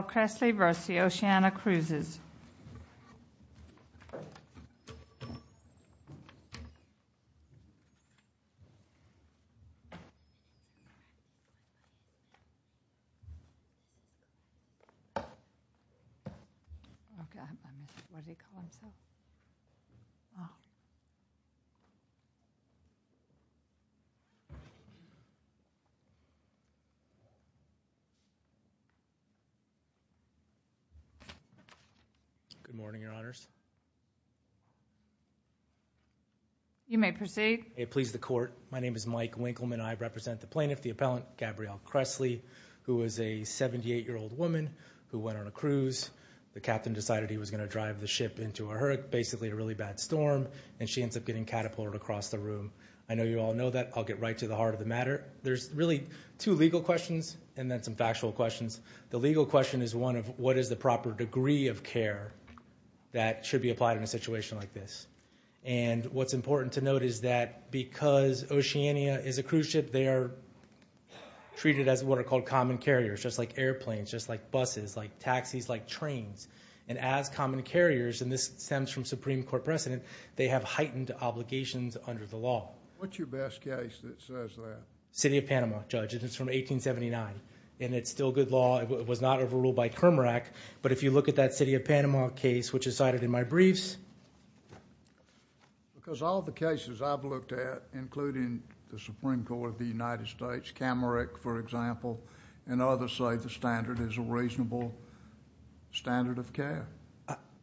Kressly v. Oceania Cruises. Good morning, Your Honors. You may proceed. I please the Court. My name is Mike Winkleman. I represent the plaintiff, the appellant, Gabriele Kressly, who is a 78-year-old woman who went on a cruise. The captain decided he was going to drive the ship into a hurricane, basically a really bad storm, and she ends up getting catapulted across the room. I know you all know that. I'll get right to the heart of the matter. There's really two legal questions and then some factual questions. The legal question is one of what is the proper degree of care that should be applied in a situation like this. And what's important to note is that because Oceania is a cruise ship, they are treated as what are called common carriers, just like airplanes, just like buses, like taxis, like trains. And as common carriers, and this stems from Supreme Court precedent, they have heightened obligations under the law. What's your best case that says that? City of Panama, Judge. It's from 1879, and it's still good law. It was not overruled by Kermarack, but if you look at that City of Panama case, which is cited in my briefs... Because all the cases I've looked at, including the Supreme Court of the United States, Camerick, for example, and others say the standard is a reasonable standard of care.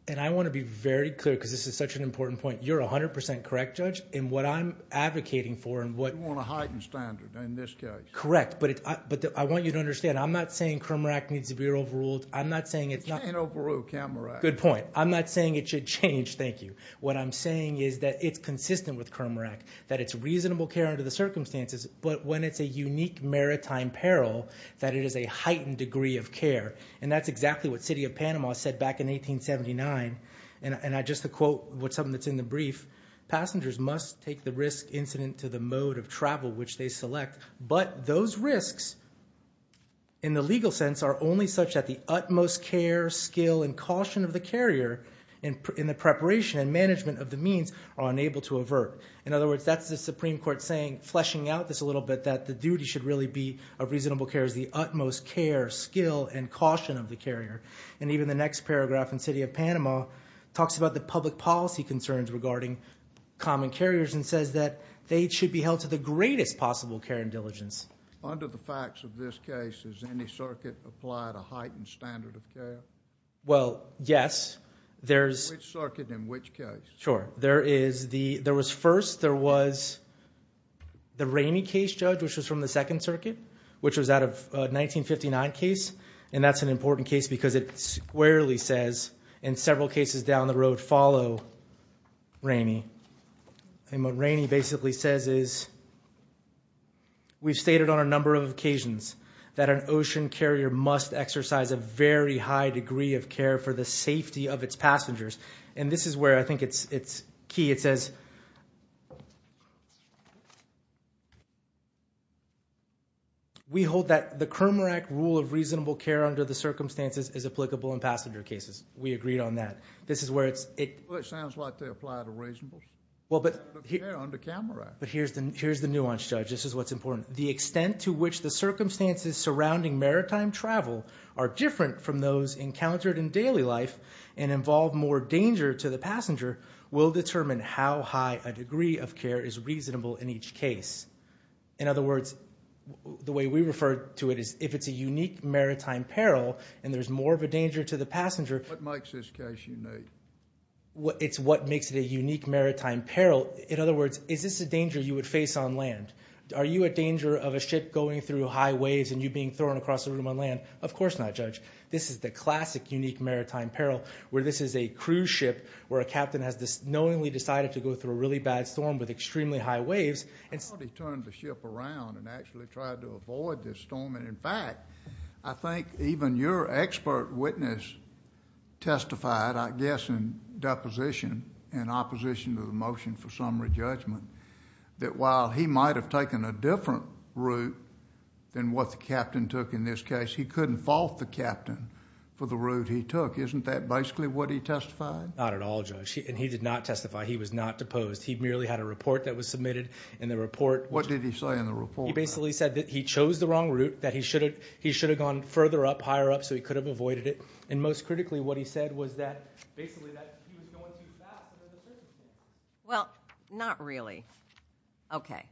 And I want to be very clear, because this is such an important point. You're 100% correct, Judge, in what I'm advocating for and what... You want a heightened standard in this case. Correct. But I want you to understand, I'm not saying Kermarack needs to be overruled. I'm not saying it's not... You can't overrule Kermarack. Good point. I'm not saying it should change, thank you. What I'm saying is that it's consistent with Kermarack, that it's reasonable care under the circumstances, but when it's a unique maritime peril, that it is a heightened degree of care. And that's exactly what City of Panama said back in 1879. And just to quote something that's in the brief, passengers must take the risk incident to the mode of travel which they select, but those risks in the legal sense are only such that the utmost care, skill, and caution of the carrier in the preparation and management of the means are unable to avert. In other words, that's the Supreme Court saying, fleshing out this a little bit, that the duty should really be of reasonable care is the utmost care, skill, and caution of the carrier. And even the next paragraph in City of Panama talks about the public policy concerns regarding common carriers and says that they should be held to the greatest possible care and diligence. Under the facts of this case, has any circuit applied a heightened standard of care? Well, yes. In which circuit, in which case? Sure. There was first, there was the Ramey case, Judge, which was from the Second Circuit, which was out of a 1959 case. And that's an important case because it squarely says, in several cases down the road follow Ramey. And what Ramey basically says is, we've stated on a number of occasions that an ocean carrier must exercise a very high degree of care for the safety of its passengers. And this is where I think it's key. It says, we hold that the Kramer Act rule of reasonable care under the circumstances is applicable in passenger cases. We agreed on that. This is where it's... Well, it sounds like they apply the reasonableness of care under Kramer Act. But here's the nuance, Judge. This is what's important. The extent to which the circumstances surrounding maritime travel are different from those encountered in daily life and involve more danger to the passenger will determine how high a degree of care is reasonable in each case. In other words, the way we refer to it is, if it's a unique maritime peril and there's more of a danger to the passenger... What makes this case unique? It's what makes it a unique maritime peril. In other words, is this a danger you would face on land? Are you a danger of a ship going through high waves and you being thrown across the room on land? Of course not, Judge. This is the classic unique maritime peril where this is a cruise ship where a captain has knowingly decided to go through a really bad storm with extremely high waves and... I've already turned the ship around and actually tried to avoid this storm and in fact, I think even your expert witness testified, I guess, in deposition and opposition to the motion for summary judgment that while he might have taken a different route than what the captain took in this case, he couldn't fault the captain for the route he took. Isn't that basically what he testified? Not at all, Judge. He did not testify. He was not deposed. He merely had a report that was submitted and the report... What did he say in the report? He basically said that he chose the wrong route, that he should have gone further up, higher up, so he could have avoided it. And most critically, what he said was that, basically, that he was going too fast. Well, not really. Okay.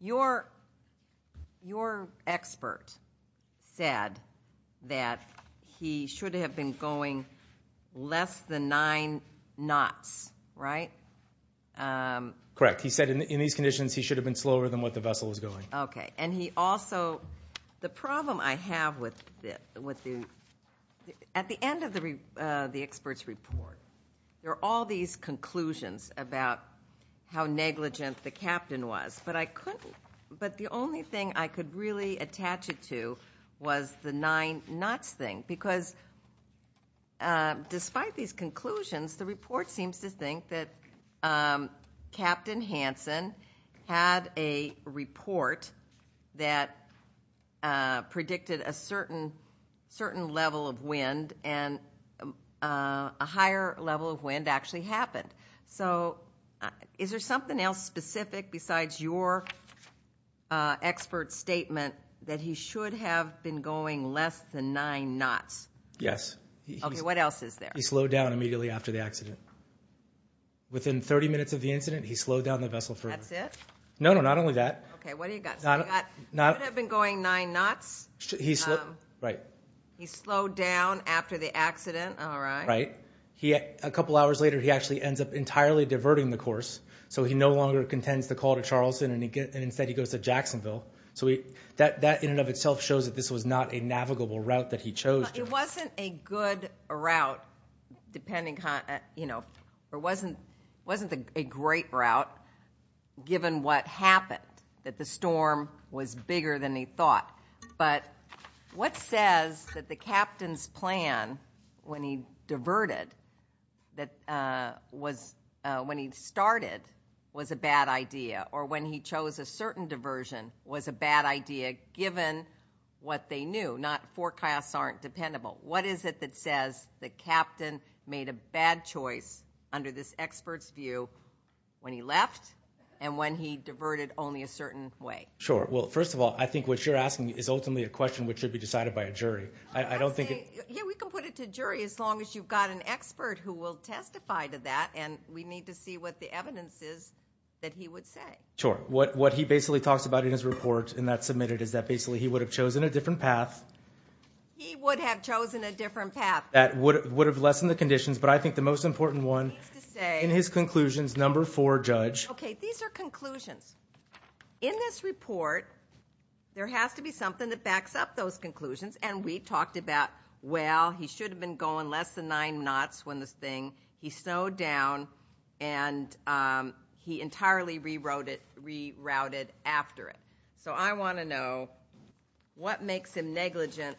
Your expert said that he should have been going less than nine knots, right? Correct. He said in these conditions, he should have been slower than what the vessel was going. Okay. And he also... The problem I have with the... At the end of the expert's report, there are all these conclusions about how negligent the captain was, but the only thing I could really attach it to was the nine knots thing, because despite these conclusions, the report seems to think that Captain Hansen had a report that predicted a certain level of wind and a higher level of wind actually happened. So is there something else specific besides your expert's statement that he should have been going less than nine knots? Yes. Okay. What else is there? He slowed down immediately after the accident. Within 30 minutes of the incident, he slowed down the vessel further. That's it? No, no. Not only that. Okay. What do you got? He should have been going nine knots. He slid... Right. He slowed down after the accident. All right. Right. A couple hours later, he actually ends up entirely diverting the course, so he no longer contends the call to Charleston, and instead, he goes to Jacksonville. So that, in and of itself, shows that this was not a navigable route that he chose. It wasn't a good route, depending on, you know, it wasn't a great route, given what happened, that the storm was bigger than he thought. But what says that the captain's plan, when he diverted, when he started, was a bad idea, or when he chose a certain diversion, was a bad idea, given what they knew, not forecasts aren't dependable? What is it that says the captain made a bad choice, under this expert's view, when he left and when he diverted only a certain way? Sure. Well, first of all, I think what you're asking is ultimately a question which should be decided by a jury. I don't think... Yeah, we can put it to jury, as long as you've got an expert who will testify to that, and we need to see what the evidence is that he would say. Sure. What he basically talks about in his report, and that's submitted, is that basically he would have chosen a different path. He would have chosen a different path. That would have lessened the conditions, but I think the most important one, in his conclusions, number four, Judge... Okay, these are conclusions. In this report, there has to be something that backs up those conclusions, and we talked about, well, he should have been going less than nine knots when this thing... He snowed down, and he entirely rerouted after it. So I want to know, what makes him negligent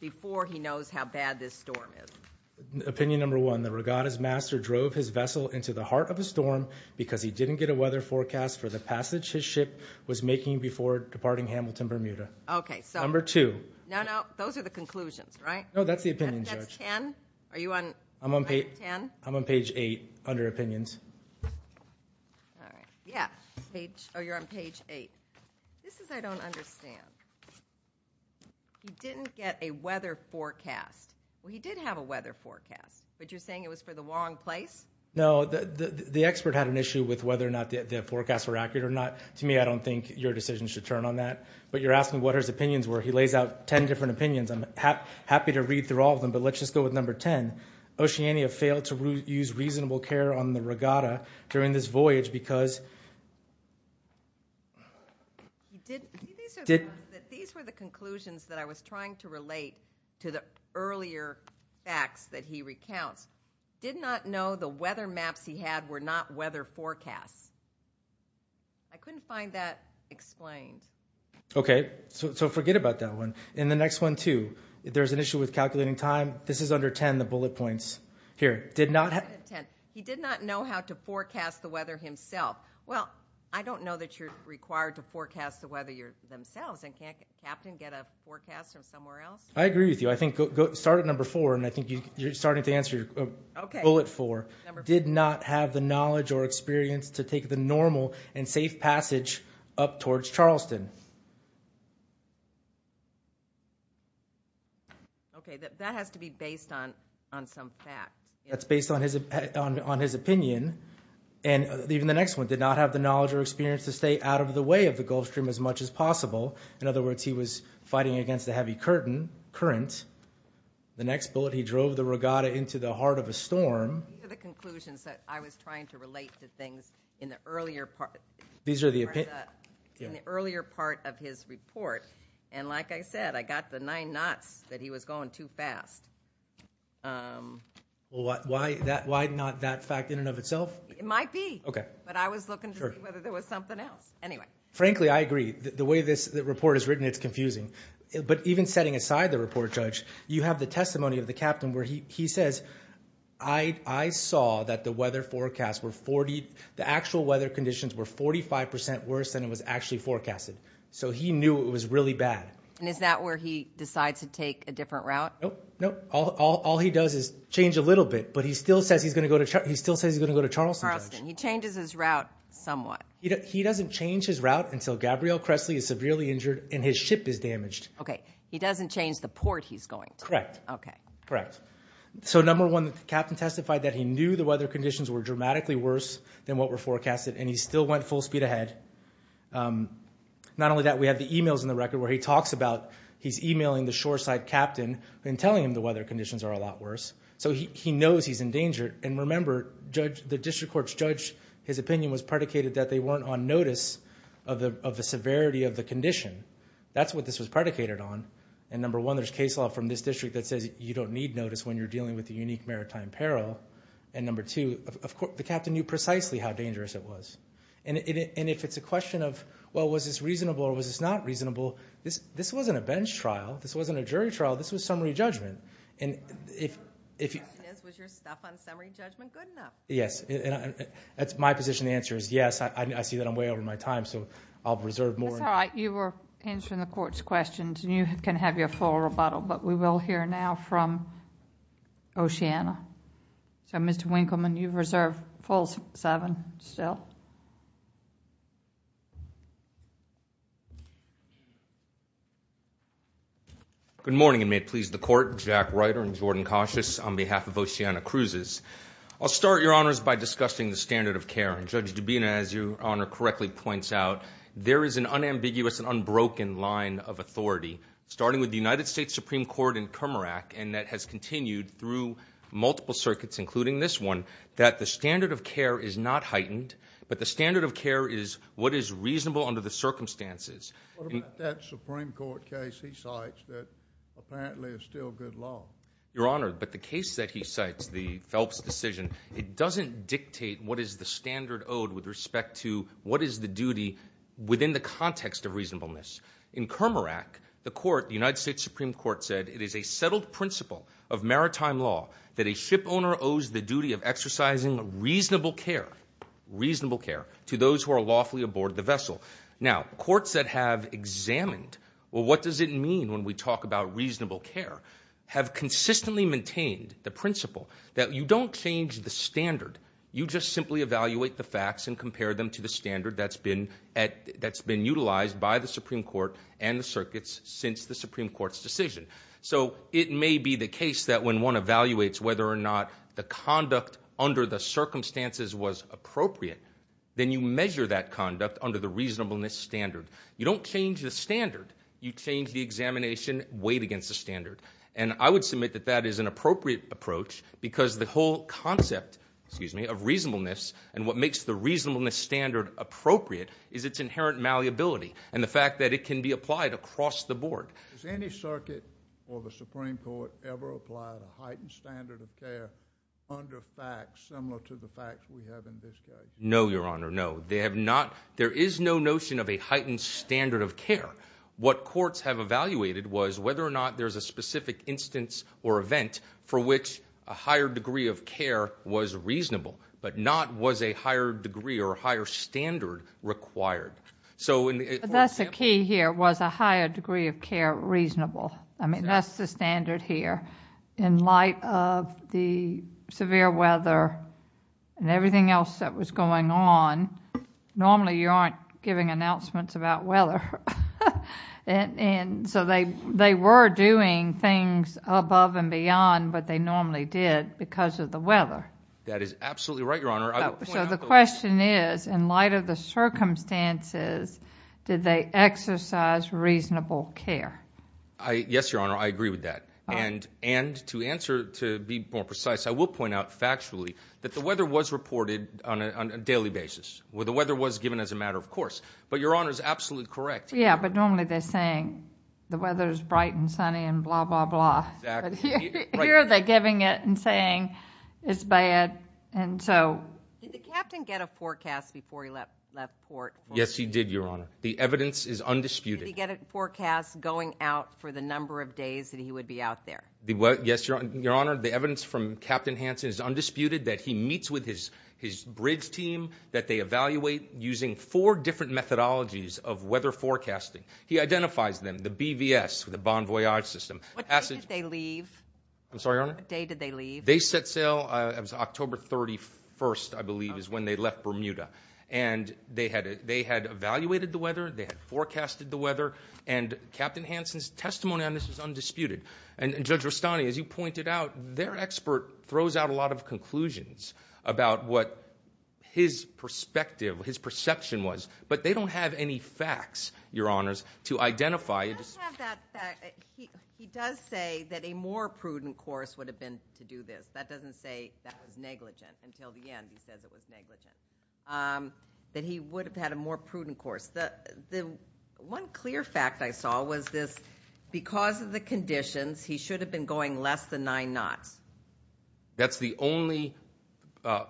before he knows how bad this storm is? Opinion number one, the regatta's master drove his vessel into the heart of a storm because he didn't get a weather forecast for the passage his ship was making before departing Hamilton, Bermuda. Okay, so... Number two... No, no. Those are the conclusions, right? No, that's the opinions, Judge. That's ten? Are you on... I'm on page... Ten? I'm on page eight, under opinions. All right. Yeah. Page... Oh, you're on page eight. This is I don't understand. He didn't get a weather forecast. Well, he did have a weather forecast, but you're saying it was for the wrong place? No. The expert had an issue with whether or not the forecasts were accurate or not. To me, I don't think your decision should turn on that, but you're asking what his opinions were. He lays out ten different opinions. I'm happy to read through all of them, but let's just go with number ten. Oceania failed to use reasonable care on the regatta during this voyage because... These were the conclusions that I was trying to relate to the earlier facts that he recounts. Did not know the weather maps he had were not weather forecasts. I couldn't find that explained. Okay. So forget about that one. In the next one, too, there's an issue with calculating time. This is under ten, the bullet points. Here. Did not have... Ten. He did not know how to forecast the weather himself. Well, I don't know that you're required to forecast the weather yourselves, and can't a captain get a forecast from somewhere else? I agree with you. I think start at number four, and I think you're starting to answer your bullet four. Okay. Number four. Did not have the knowledge or experience to take the normal and safe passage up towards Charleston. Okay. That has to be based on some fact. That's based on his opinion, and even the next one. Did not have the knowledge or experience to stay out of the way of the Gulf Stream as much as possible. In other words, he was fighting against a heavy current. The next bullet, he drove the regatta into the heart of a storm. These are the conclusions that I was trying to relate to things in the earlier part. These are the... In the earlier part of his report, and like I said, I got the nine knots that he was going too fast. Why not that fact in and of itself? It might be. Okay. But I was looking to see whether there was something else. Anyway. Frankly, I agree. The way this report is written, it's confusing. But even setting aside the report, Judge, you have the testimony of the captain where he says, I saw that the weather forecast were 40... The actual weather conditions were 45% worse than it was actually forecasted. So he knew it was really bad. And is that where he decides to take a different route? Nope. Nope. All he does is change a little bit, but he still says he's going to go to Charleston. He changes his route somewhat. He doesn't change his route until Gabrielle Cressley is severely injured and his ship is damaged. Okay. He doesn't change the port he's going to. Correct. Correct. Okay. Correct. So number one, the captain testified that he knew the weather conditions were dramatically worse than what were forecasted, and he still went full speed ahead. Not only that, we have the emails in the record where he talks about he's emailing the shoreside captain and telling him the weather conditions are a lot worse. So he knows he's endangered. And remember, the district court's judge, his opinion was predicated that they weren't on notice of the severity of the condition. That's what this was predicated on. And number one, there's case law from this district that says you don't need notice when you're dealing with a unique maritime peril. And number two, the captain knew precisely how dangerous it was. And if it's a question of, well, was this reasonable or was this not reasonable, this wasn't a bench trial. This wasn't a jury trial. This was summary judgment. And if you... The question is, was your stuff on summary judgment good enough? Yes. That's my position. The answer is yes. I see that I'm way over my time, so I'll reserve more. That's all right. You were answering the court's questions, and you can have your full rebuttal. But we will hear now from Oceana. So, Mr. Winkleman, you've reserved full seven still. Good morning, and may it please the court. Jack Ryder and Jordan Cautious on behalf of Oceana Cruises. I'll start, Your Honors, by discussing the standard of care. Judge Dubina, as Your Honor correctly points out, there is an unambiguous and unbroken line of authority, starting with the United States Supreme Court in Cummerack, and that has continued through multiple circuits, including this one, that the standard of care is not heightened, but the standard of care is what is reasonable under the circumstances. What about that Supreme Court case he cites that apparently is still good law? Your Honor, but the case that he cites, the Phelps decision, it doesn't dictate what is the standard owed with respect to what is the duty within the context of reasonableness. In Cummerack, the court, the United States Supreme Court, said it is a settled principle of maritime law that a shipowner owes the duty of exercising reasonable care, reasonable care, to those who are lawfully aboard the vessel. Now, courts that have examined, well, what does it mean when we talk about reasonable care, have consistently maintained the principle that you don't change the standard, you just simply evaluate the facts and compare them to the standard that's been utilized by the Supreme Court and the circuits since the Supreme Court's decision. So it may be the case that when one evaluates whether or not the conduct under the circumstances was appropriate, then you measure that conduct under the reasonableness standard. You don't change the standard. You change the examination weighed against the standard. And I would submit that that is an appropriate approach because the whole concept of reasonableness and what makes the reasonableness standard appropriate is its inherent malleability and the fact that it can be applied across the board. Has any circuit or the Supreme Court ever applied a heightened standard of care under facts similar to the facts we have in this case? No, Your Honor, no. They have not. There is no notion of a heightened standard of care. What courts have evaluated was whether or not there's a specific instance or event for which a higher degree of care was reasonable, but not was a higher degree or a higher standard required. That's the key here, was a higher degree of care reasonable. I mean, that's the standard here. In light of the severe weather and everything else that was going on, normally you aren't giving announcements about weather. And so they were doing things above and beyond what they normally did because of the weather. That is absolutely right, Your Honor. So the question is, in light of the circumstances, did they exercise reasonable care? Yes, Your Honor, I agree with that. And to answer to be more precise, I will point out factually that the weather was reported on a daily basis. The weather was given as a matter of course. But Your Honor is absolutely correct. Yeah, but normally they're saying the weather is bright and sunny and blah, blah, blah. Exactly. Here they're giving it and saying it's bad. Did the captain get a forecast before he left port? Yes, he did, Your Honor. The evidence is undisputed. Did he get a forecast going out for the number of days that he would be out there? Yes, Your Honor. The evidence from Captain Hansen is undisputed, that he meets with his bridge team, that they evaluate using four different methodologies of weather forecasting. He identifies them, the BVS, the Bon Voyage system. What day did they leave? I'm sorry, Your Honor? What day did they leave? They set sail October 31st, I believe, is when they left Bermuda. And they had evaluated the weather, they had forecasted the weather, and Captain Hansen's testimony on this is undisputed. And Judge Rustani, as you pointed out, their expert throws out a lot of conclusions about what his perspective, his perception was, but they don't have any facts, Your Honors, to identify. He does say that a more prudent course would have been to do this. That doesn't say that was negligent. Until the end, he says it was negligent, that he would have had a more prudent course. The one clear fact I saw was this, because of the conditions, he should have been going less than nine knots. That's the only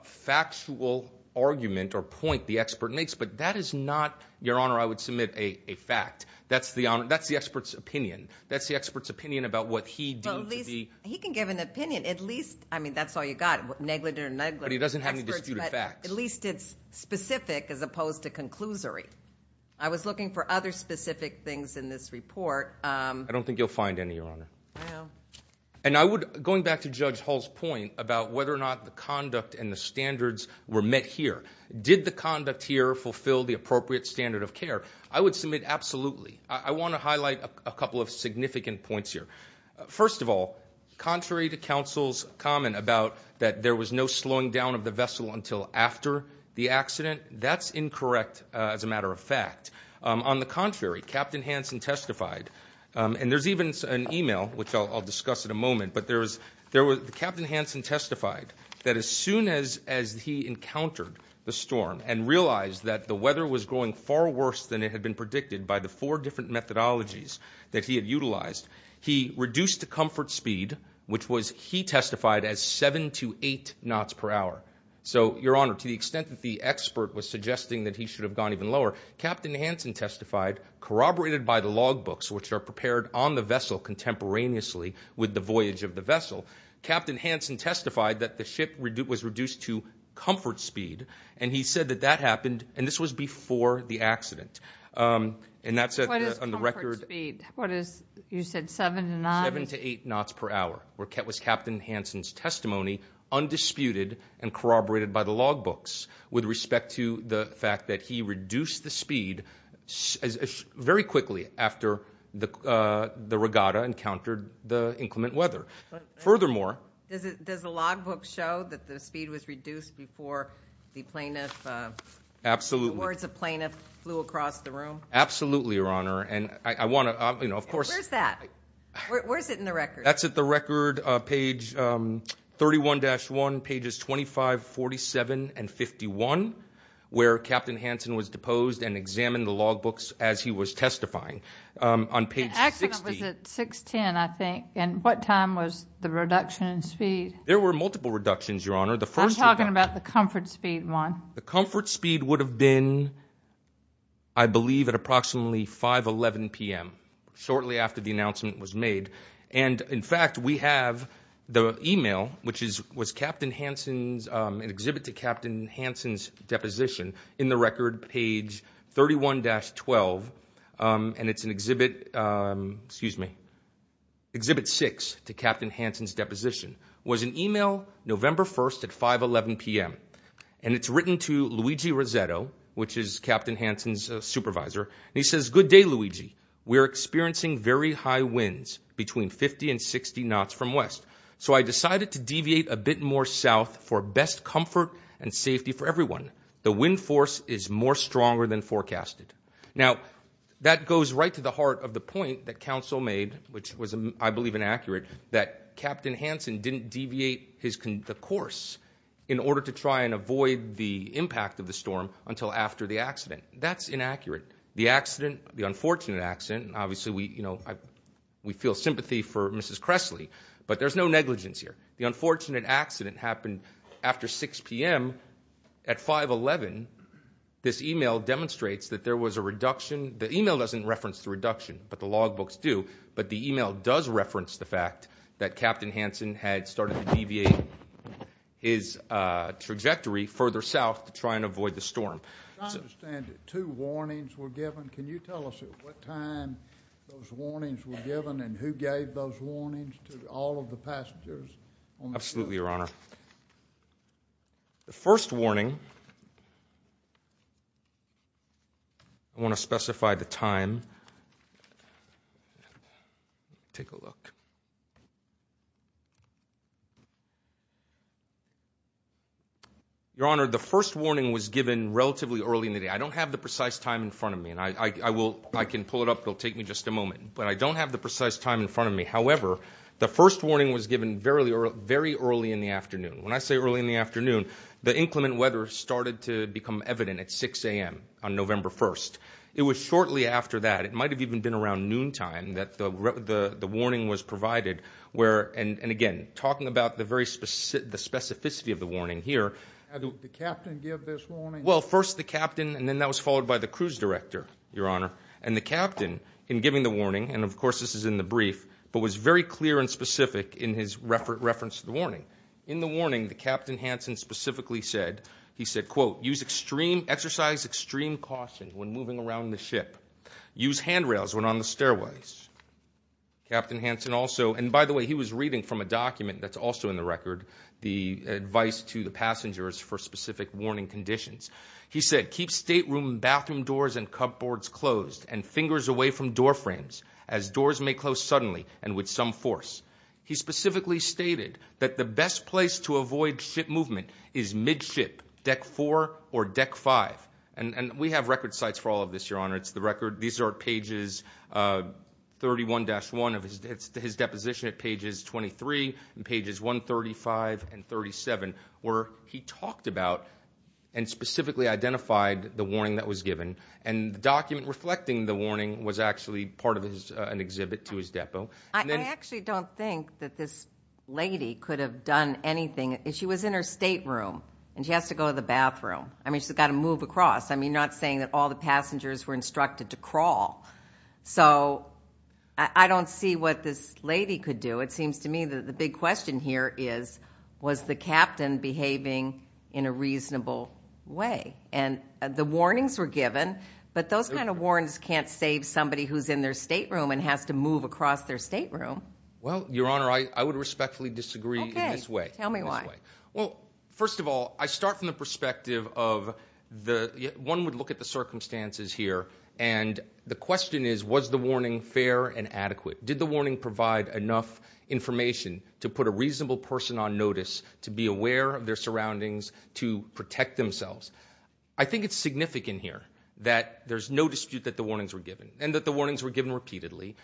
factual argument or point the expert makes, but that is not, Your Honor, I would submit a fact. That's the expert's opinion. That's the expert's opinion about what he deemed to be. He can give an opinion. At least, I mean, that's all you got, negligent or negligent. But he doesn't have any disputed facts. At least it's specific as opposed to conclusory. I was looking for other specific things in this report. I don't think you'll find any, Your Honor. I know. And I would, going back to Judge Hall's point about whether or not the conduct and the standards were met here, did the conduct here fulfill the appropriate standard of care? I would submit absolutely. I want to highlight a couple of significant points here. First of all, contrary to counsel's comment about that there was no slowing down of the vessel until after the accident, that's incorrect as a matter of fact. On the contrary, Captain Hansen testified, and there's even an e-mail, which I'll discuss in a moment. But Captain Hansen testified that as soon as he encountered the storm and realized that the weather was going far worse than it had been predicted by the four different methodologies that he had utilized, he reduced the comfort speed, which he testified as 7 to 8 knots per hour. So, Your Honor, to the extent that the expert was suggesting that he should have gone even lower, Captain Hansen testified, corroborated by the logbooks, which are prepared on the vessel contemporaneously with the voyage of the vessel, Captain Hansen testified that the ship was reduced to comfort speed, and he said that that happened, and this was before the accident. And that's on the record. What is comfort speed? You said 7 to 9? 7 to 8 knots per hour was Captain Hansen's testimony, undisputed and corroborated by the logbooks with respect to the fact that he reduced the speed very quickly after the regatta encountered the inclement weather. Furthermore, Does the logbook show that the speed was reduced before the words of plaintiff flew across the room? Absolutely, Your Honor. Where's that? Where's it in the record? That's at the record, page 31-1, pages 25, 47, and 51, where Captain Hansen was deposed and examined the logbooks as he was testifying. The accident was at 6.10, I think. And what time was the reduction in speed? There were multiple reductions, Your Honor. I'm talking about the comfort speed one. The comfort speed would have been, I believe, at approximately 5.11 p.m., shortly after the announcement was made. And, in fact, we have the e-mail, which was an exhibit to Captain Hansen's deposition, in the record, page 31-12, and it's an exhibit 6 to Captain Hansen's deposition. It was an e-mail November 1st at 5.11 p.m., and it's written to Luigi Rossetto, which is Captain Hansen's supervisor, and he says, Good day, Luigi. We are experiencing very high winds, between 50 and 60 knots from west, so I decided to deviate a bit more south for best comfort and safety for everyone. The wind force is more stronger than forecasted. Now, that goes right to the heart of the point that counsel made, which was, I believe, inaccurate, that Captain Hansen didn't deviate the course in order to try and avoid the impact of the storm until after the accident. That's inaccurate. The accident, the unfortunate accident, obviously we feel sympathy for Mrs. Cressley, but there's no negligence here. The unfortunate accident happened after 6 p.m. at 5.11. This e-mail demonstrates that there was a reduction. The e-mail doesn't reference the reduction, but the logbooks do, but the e-mail does reference the fact that Captain Hansen had started to deviate his trajectory further south to try and avoid the storm. I understand that two warnings were given. Can you tell us at what time those warnings were given and who gave those warnings to all of the passengers on the ship? Absolutely, Your Honor. The first warning, I want to specify the time. Take a look. Your Honor, the first warning was given relatively early in the day. I don't have the precise time in front of me, and I can pull it up. It will take me just a moment. But I don't have the precise time in front of me. However, the first warning was given very early in the afternoon. When I say early in the afternoon, the inclement weather started to become evident at 6 a.m. on November 1st. It was shortly after that, it might have even been around noontime, that the warning was provided. Again, talking about the specificity of the warning here. Did the captain give this warning? Well, first the captain, and then that was followed by the cruise director, Your Honor. The captain, in giving the warning, and of course this is in the brief, but was very clear and specific in his reference to the warning. he said, quote, Exercise extreme caution when moving around the ship. Use handrails when on the stairways. Captain Hansen also, and by the way, he was reading from a document that's also in the record, the advice to the passengers for specific warning conditions. He said, He specifically stated that the best place to avoid ship movement is midship, deck four or deck five. And we have record sites for all of this, Your Honor. It's the record. These are pages 31-1 of his deposition at pages 23 and pages 135 and 37, where he talked about and specifically identified the warning that was given. And the document reflecting the warning was actually part of an exhibit to his depot. I actually don't think that this lady could have done anything. She was in her stateroom, and she has to go to the bathroom. I mean, she's got to move across. I mean, not saying that all the passengers were instructed to crawl. So I don't see what this lady could do. It seems to me that the big question here is, was the captain behaving in a reasonable way? And the warnings were given, but those kind of warnings can't save somebody who's in their stateroom and has to move across their stateroom. Well, Your Honor, I would respectfully disagree in this way. Tell me why. Well, first of all, I start from the perspective of the one would look at the circumstances here, and the question is, was the warning fair and adequate? Did the warning provide enough information to put a reasonable person on notice, to be aware of their surroundings, to protect themselves? I think it's significant here that there's no dispute that the warnings were given and that the warnings were given repeatedly,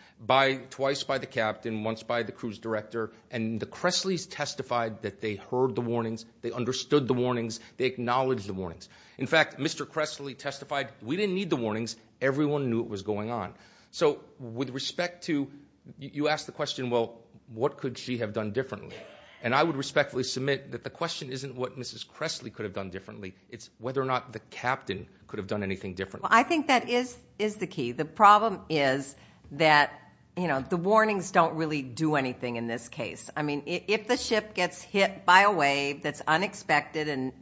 twice by the captain, once by the cruise director, and the Cressleys testified that they heard the warnings, they understood the warnings, they acknowledged the warnings. In fact, Mr. Cressley testified, we didn't need the warnings. Everyone knew what was going on. So with respect to you asked the question, well, what could she have done differently? And I would respectfully submit that the question isn't what Mrs. Cressley could have done differently. It's whether or not the captain could have done anything differently. Well, I think that is the key. The problem is that the warnings don't really do anything in this case. I mean, if the ship gets hit by a wave that's unexpected and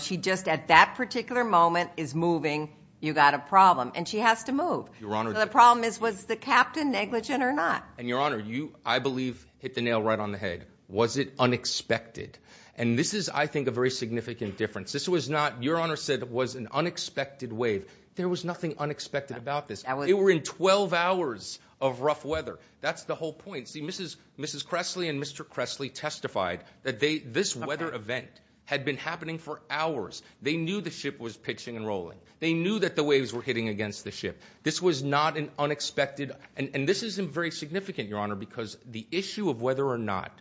she just at that particular moment is moving, you've got a problem, and she has to move. The problem is, was the captain negligent or not? And, Your Honor, you, I believe, hit the nail right on the head. Was it unexpected? And this is, I think, a very significant difference. This was not, Your Honor said it was an unexpected wave. There was nothing unexpected about this. It were in 12 hours of rough weather. That's the whole point. See, Mrs. Cressley and Mr. Cressley testified that this weather event had been happening for hours. They knew the ship was pitching and rolling. They knew that the waves were hitting against the ship. This was not an unexpected, and this is very significant, Your Honor, because the issue of whether or not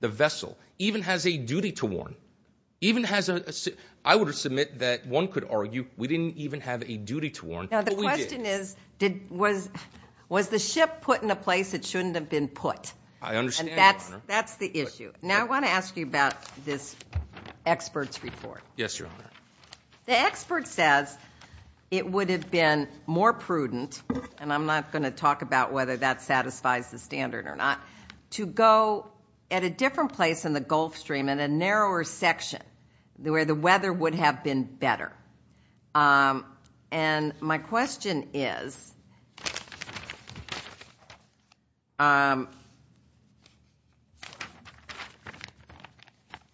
the vessel even has a duty to warn, I would submit that one could argue we didn't even have a duty to warn, but we did. Now, the question is, was the ship put in a place it shouldn't have been put? I understand, Your Honor. And that's the issue. Now, I want to ask you about this expert's report. Yes, Your Honor. The expert says it would have been more prudent, and I'm not going to talk about whether that satisfies the standard or not, to go at a different place in the Gulf Stream, in a narrower section where the weather would have been better. And my question is,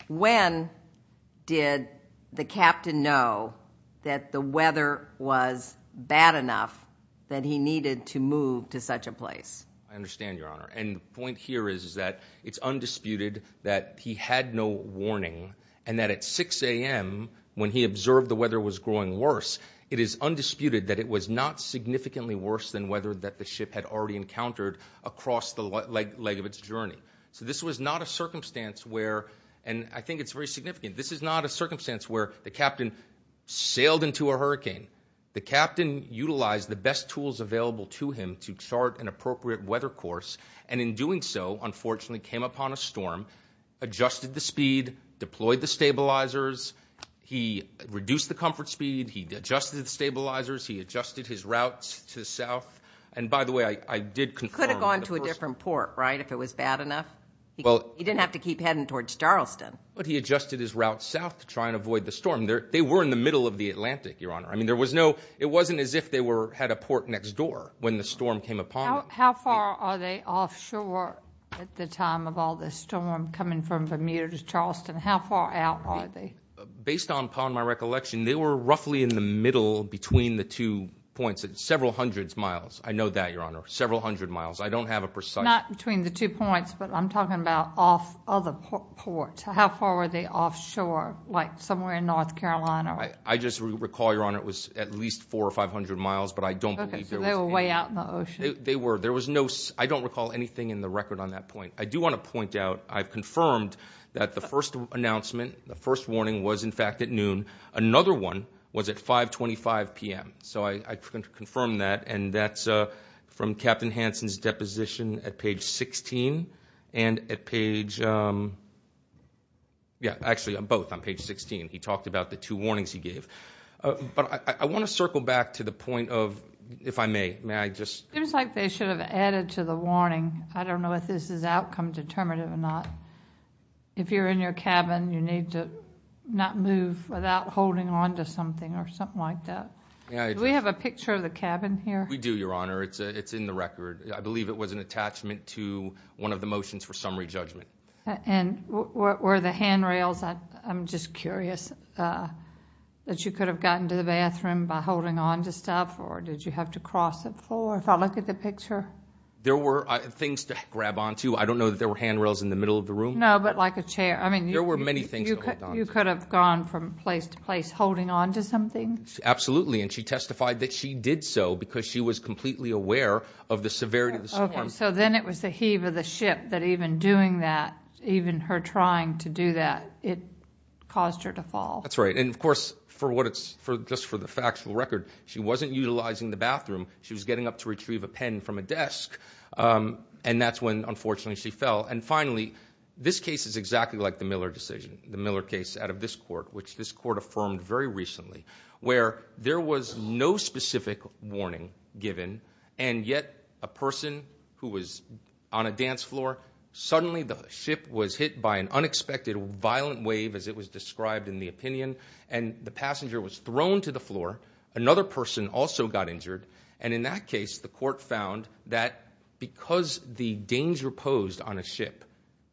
when did the captain know that the weather was bad enough that he needed to move to such a place? I understand, Your Honor. And the point here is that it's undisputed that he had no warning, and that at 6 a.m., when he observed the weather was growing worse, it is undisputed that it was not significantly worse than weather that the ship had already encountered across the leg of its journey. So this was not a circumstance where, and I think it's very significant, this is not a circumstance where the captain sailed into a hurricane. The captain utilized the best tools available to him to chart an appropriate weather course, and in doing so, unfortunately, came upon a storm, adjusted the speed, deployed the stabilizers. He reduced the comfort speed. He adjusted the stabilizers. He adjusted his routes to the south. And, by the way, I did confirm. He could have gone to a different port, right, if it was bad enough? He didn't have to keep heading towards Charleston. But he adjusted his route south to try and avoid the storm. They were in the middle of the Atlantic, Your Honor. I mean, it wasn't as if they had a port next door when the storm came upon them. How far are they offshore at the time of all this storm coming from Bermuda to Charleston? How far out are they? Based upon my recollection, they were roughly in the middle between the two points, several hundred miles. I know that, Your Honor, several hundred miles. I don't have a precise. Not between the two points, but I'm talking about off of the port. How far were they offshore, like somewhere in North Carolina? I just recall, Your Honor, it was at least 400 or 500 miles, but I don't believe there was any. Okay, so they were way out in the ocean. They were. There was no—I don't recall anything in the record on that point. I do want to point out I've confirmed that the first announcement, the first warning was, in fact, at noon. Another one was at 525 p.m., so I confirmed that. And that's from Captain Hansen's deposition at page 16 and at page—actually, both on page 16. He talked about the two warnings he gave. But I want to circle back to the point of, if I may, may I just— It seems like they should have added to the warning. I don't know if this is outcome determinative or not. If you're in your cabin, you need to not move without holding onto something or something like that. Do we have a picture of the cabin here? We do, Your Honor. It's in the record. I believe it was an attachment to one of the motions for summary judgment. And were the handrails—I'm just curious—that you could have gotten to the bathroom by holding onto stuff or did you have to cross the floor, if I look at the picture? There were things to grab onto. I don't know that there were handrails in the middle of the room. No, but like a chair. There were many things to hold onto. You could have gone from place to place holding onto something? Absolutely, and she testified that she did so because she was completely aware of the severity of the— Okay, so then it was the heave of the ship that even doing that, even her trying to do that, it caused her to fall. That's right. And, of course, just for the factual record, she wasn't utilizing the bathroom. She was getting up to retrieve a pen from a desk, and that's when, unfortunately, she fell. And finally, this case is exactly like the Miller decision, the Miller case out of this court, which this court affirmed very recently, where there was no specific warning given, and yet a person who was on a dance floor, suddenly the ship was hit by an unexpected violent wave, as it was described in the opinion, and the passenger was thrown to the floor. Another person also got injured, and in that case, the court found that because the danger posed on a ship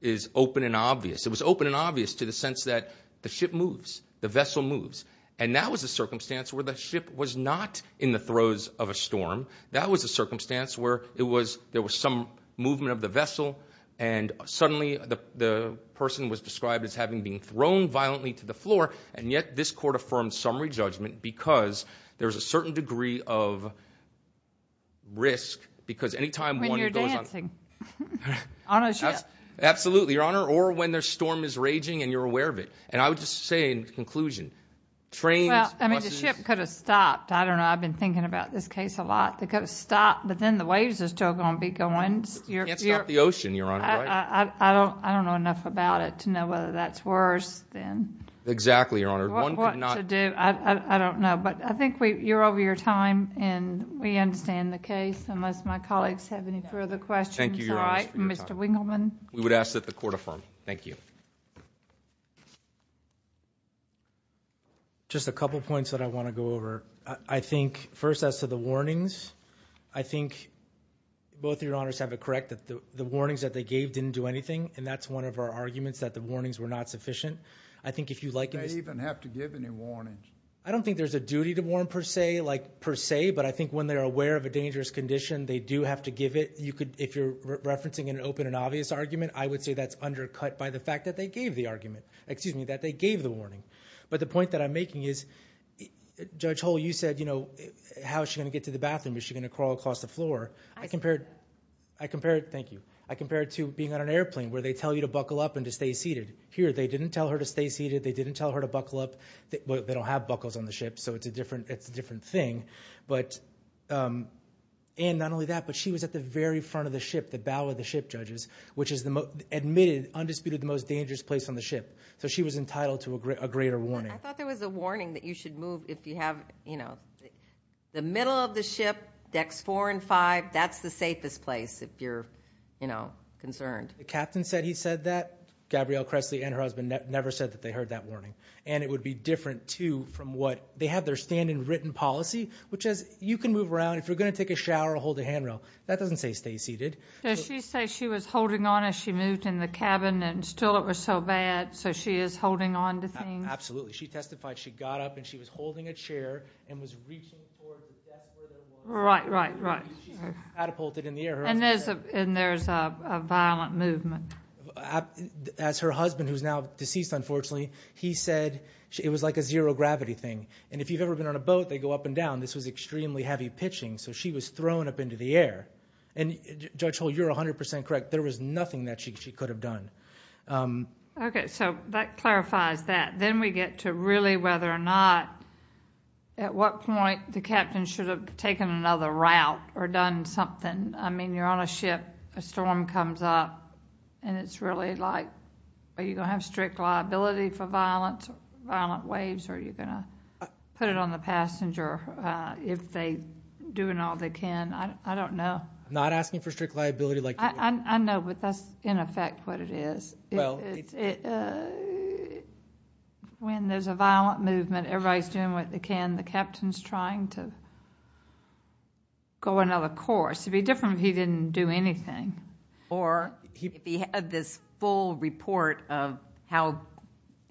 is open and obvious, it was open and obvious to the sense that the ship moves, the vessel moves, and that was a circumstance where the ship was not in the throes of a storm. That was a circumstance where there was some movement of the vessel, and suddenly the person was described as having been thrown violently to the floor, and yet this court affirmed summary judgment because there's a certain degree of risk because any time one goes on— When you're dancing on a ship. Absolutely, Your Honor, or when the storm is raging and you're aware of it. And I would just say in conclusion, trains— Well, I mean, the ship could have stopped. I don't know. I've been thinking about this case a lot. They could have stopped, but then the waves are still going to be going. You can't stop the ocean, Your Honor, right? I don't know enough about it to know whether that's worse than— Exactly, Your Honor. What to do, I don't know. But I think you're over your time, and we understand the case, unless my colleagues have any further questions. I'm sorry, Mr. Wingleman. We would ask that the court affirm. Thank you. Just a couple points that I want to go over. I think first as to the warnings, I think both Your Honors have it correct that the warnings that they gave didn't do anything, and that's one of our arguments that the warnings were not sufficient. I think if you liken this— They didn't even have to give any warnings. I don't think there's a duty to warn per se, like per se, but I think when they're aware of a dangerous condition, they do have to give it. If you're referencing an open and obvious argument, I would say that's undercut by the fact that they gave the argument— excuse me, that they gave the warning. But the point that I'm making is, Judge Hull, you said, you know, how is she going to get to the bathroom? Is she going to crawl across the floor? I compared—thank you. I compared it to being on an airplane where they tell you to buckle up and to stay seated. Here, they didn't tell her to stay seated. They didn't tell her to buckle up. They don't have buckles on the ship, so it's a different thing. But—and not only that, but she was at the very front of the ship, the bow of the ship, judges, which is the most—admitted, undisputed, the most dangerous place on the ship. So she was entitled to a greater warning. I thought there was a warning that you should move if you have, you know— the middle of the ship, decks four and five, that's the safest place if you're, you know, concerned. The captain said he said that. Gabrielle Kressley and her husband never said that they heard that warning. And it would be different, too, from what—they have their stand-in written policy, which is you can move around. If you're going to take a shower, hold a handrail. That doesn't say stay seated. Does she say she was holding on as she moved in the cabin and still it was so bad, so she is holding on to things? Absolutely. She testified she got up and she was holding a chair and was reaching towards the desk where there was a warning. Right, right, right. She's catapulted in the air. And there's a violent movement. As her husband, who's now deceased, unfortunately, he said it was like a zero-gravity thing. And if you've ever been on a boat, they go up and down. This was extremely heavy pitching, so she was thrown up into the air. And, Judge Hull, you're 100% correct. There was nothing that she could have done. Okay, so that clarifies that. Then we get to really whether or not, at what point, the captain should have taken another route or done something. I mean, you're on a ship, a storm comes up, and it's really like, are you going to have strict liability for violent waves, or are you going to put it on the passenger if they're doing all they can? I don't know. I'm not asking for strict liability. I know, but that's, in effect, what it is. When there's a violent movement, everybody's doing what they can. The captain's trying to go another course. It would be different if he didn't do anything. Or if he had this full report of how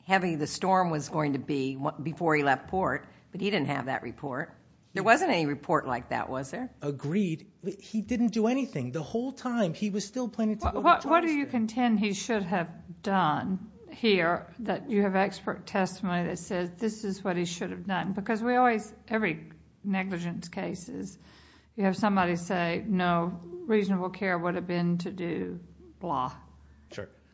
heavy the storm was going to be before he left port, but he didn't have that report. There wasn't any report like that, was there? Agreed. He didn't do anything. The whole time, he was still planning to go to the transfer. What do you contend he should have done here, that you have expert testimony that says this is what he should have done? Because every negligence case is you have somebody say, no, reasonable care would have been to do blah,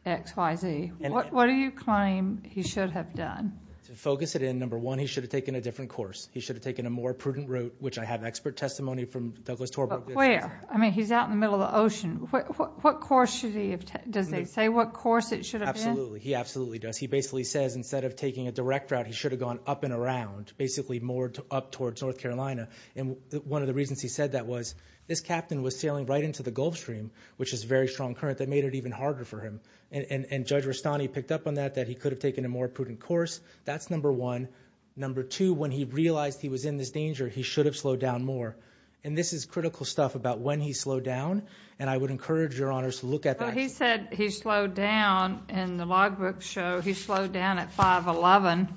X, Y, Z. What do you claim he should have done? To focus it in, number one, he should have taken a different course. He should have taken a more prudent route, which I have expert testimony from Douglas Torberg. Where? I mean, he's out in the middle of the ocean. What course should he have taken? Does he say what course it should have been? Absolutely. He absolutely does. He basically says instead of taking a direct route, he should have gone up and around, basically more up towards North Carolina. And one of the reasons he said that was this captain was sailing right into the Gulf Stream, which is a very strong current that made it even harder for him. And Judge Rustani picked up on that, that he could have taken a more prudent course. That's number one. Number two, when he realized he was in this danger, he should have slowed down more. And this is critical stuff about when he slowed down, and I would encourage your honors to look at that. He said he slowed down in the logbook show. He slowed down at 5.11,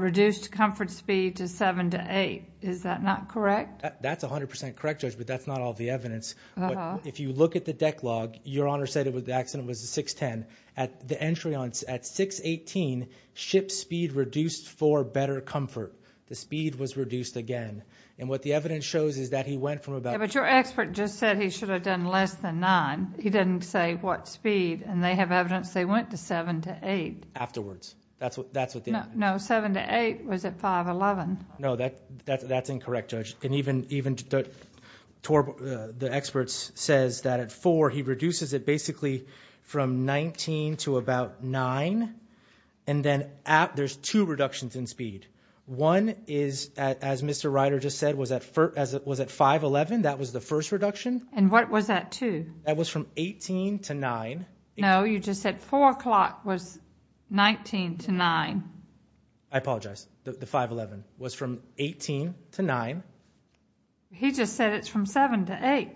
reduced comfort speed to 7 to 8. Is that not correct? That's 100% correct, Judge, but that's not all the evidence. If you look at the deck log, your honors said the accident was at 6.10. The entry at 6.18, ship speed reduced for better comfort. The speed was reduced again. And what the evidence shows is that he went from about 6.10. But your expert just said he should have done less than 9. He didn't say what speed. And they have evidence they went to 7 to 8. Afterwards. That's what they did. No, 7 to 8 was at 5.11. No, that's incorrect, Judge. And even the experts says that at 4, he reduces it basically from 19 to about 9. And then there's two reductions in speed. One is, as Mr. Ryder just said, was at 5.11. That was the first reduction. And what was at 2? That was from 18 to 9. No, you just said 4 o'clock was 19 to 9. I apologize. The 5.11 was from 18 to 9. He just said it's from 7 to 8.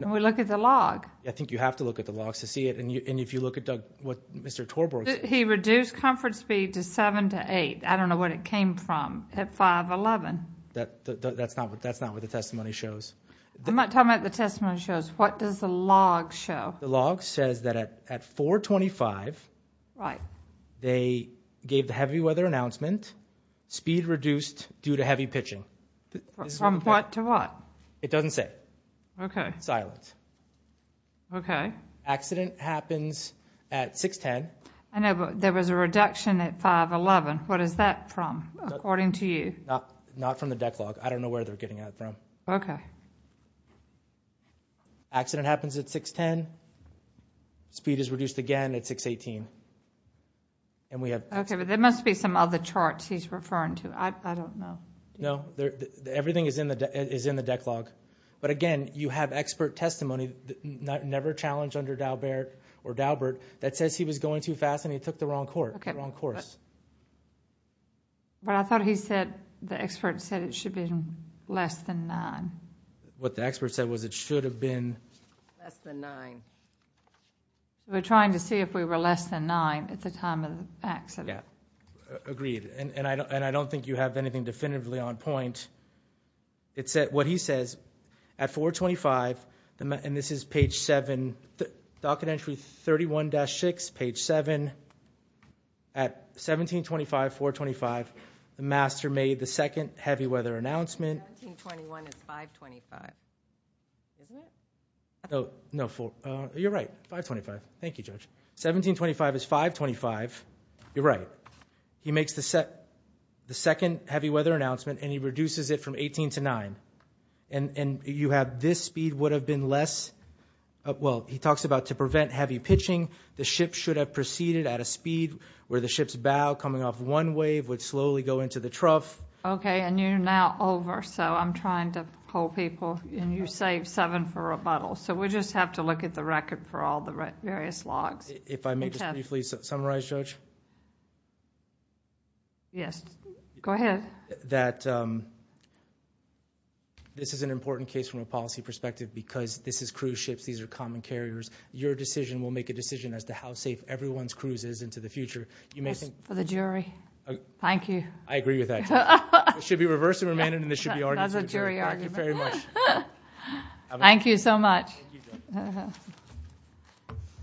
And we look at the log. I think you have to look at the logs to see it. And if you look at what Mr. Torberg said. He reduced comfort speed to 7 to 8. I don't know what it came from at 5.11. That's not what the testimony shows. I'm not talking about the testimony shows. What does the log show? The log says that at 4.25, they gave the heavy weather announcement, speed reduced due to heavy pitching. From what to what? It doesn't say. Okay. Silent. Okay. Accident happens at 6.10. I know, but there was a reduction at 5.11. What is that from, according to you? Not from the deck log. I don't know where they're getting that from. Okay. Accident happens at 6.10. Speed is reduced again at 6.18. Okay, but there must be some other charts he's referring to. I don't know. No. Everything is in the deck log. But again, you have expert testimony, never challenged under Daubert. That says he was going too fast and he took the wrong course. But I thought he said, the expert said it should have been less than nine. What the expert said was it should have been less than nine. We're trying to see if we were less than nine at the time of the accident. Agreed. And I don't think you have anything definitively on point. What he says, at 4.25, and this is page seven, docket entry 31-6, page seven, at 17.25, 4.25, the master made the second heavy weather announcement. 17.21 is 5.25, isn't it? No, you're right, 5.25. Thank you, Judge. 17.25 is 5.25. You're right. He makes the second heavy weather announcement, and he reduces it from 18 to nine. And you have this speed would have been less. Well, he talks about to prevent heavy pitching, the ship should have proceeded at a speed where the ship's bow coming off one wave would slowly go into the trough. Okay, and you're now over. So I'm trying to pull people. And you saved seven for rebuttal. So we just have to look at the record for all the various logs. If I may just briefly summarize, Judge? Yes, go ahead. That this is an important case from a policy perspective because this is cruise ships, these are common carriers. Your decision will make a decision as to how safe everyone's cruise is into the future. For the jury. Thank you. I agree with that. It should be reversed and remanded, and this should be argued. That's a jury argument. Thank you very much. Thank you so much. Thank you, Judge.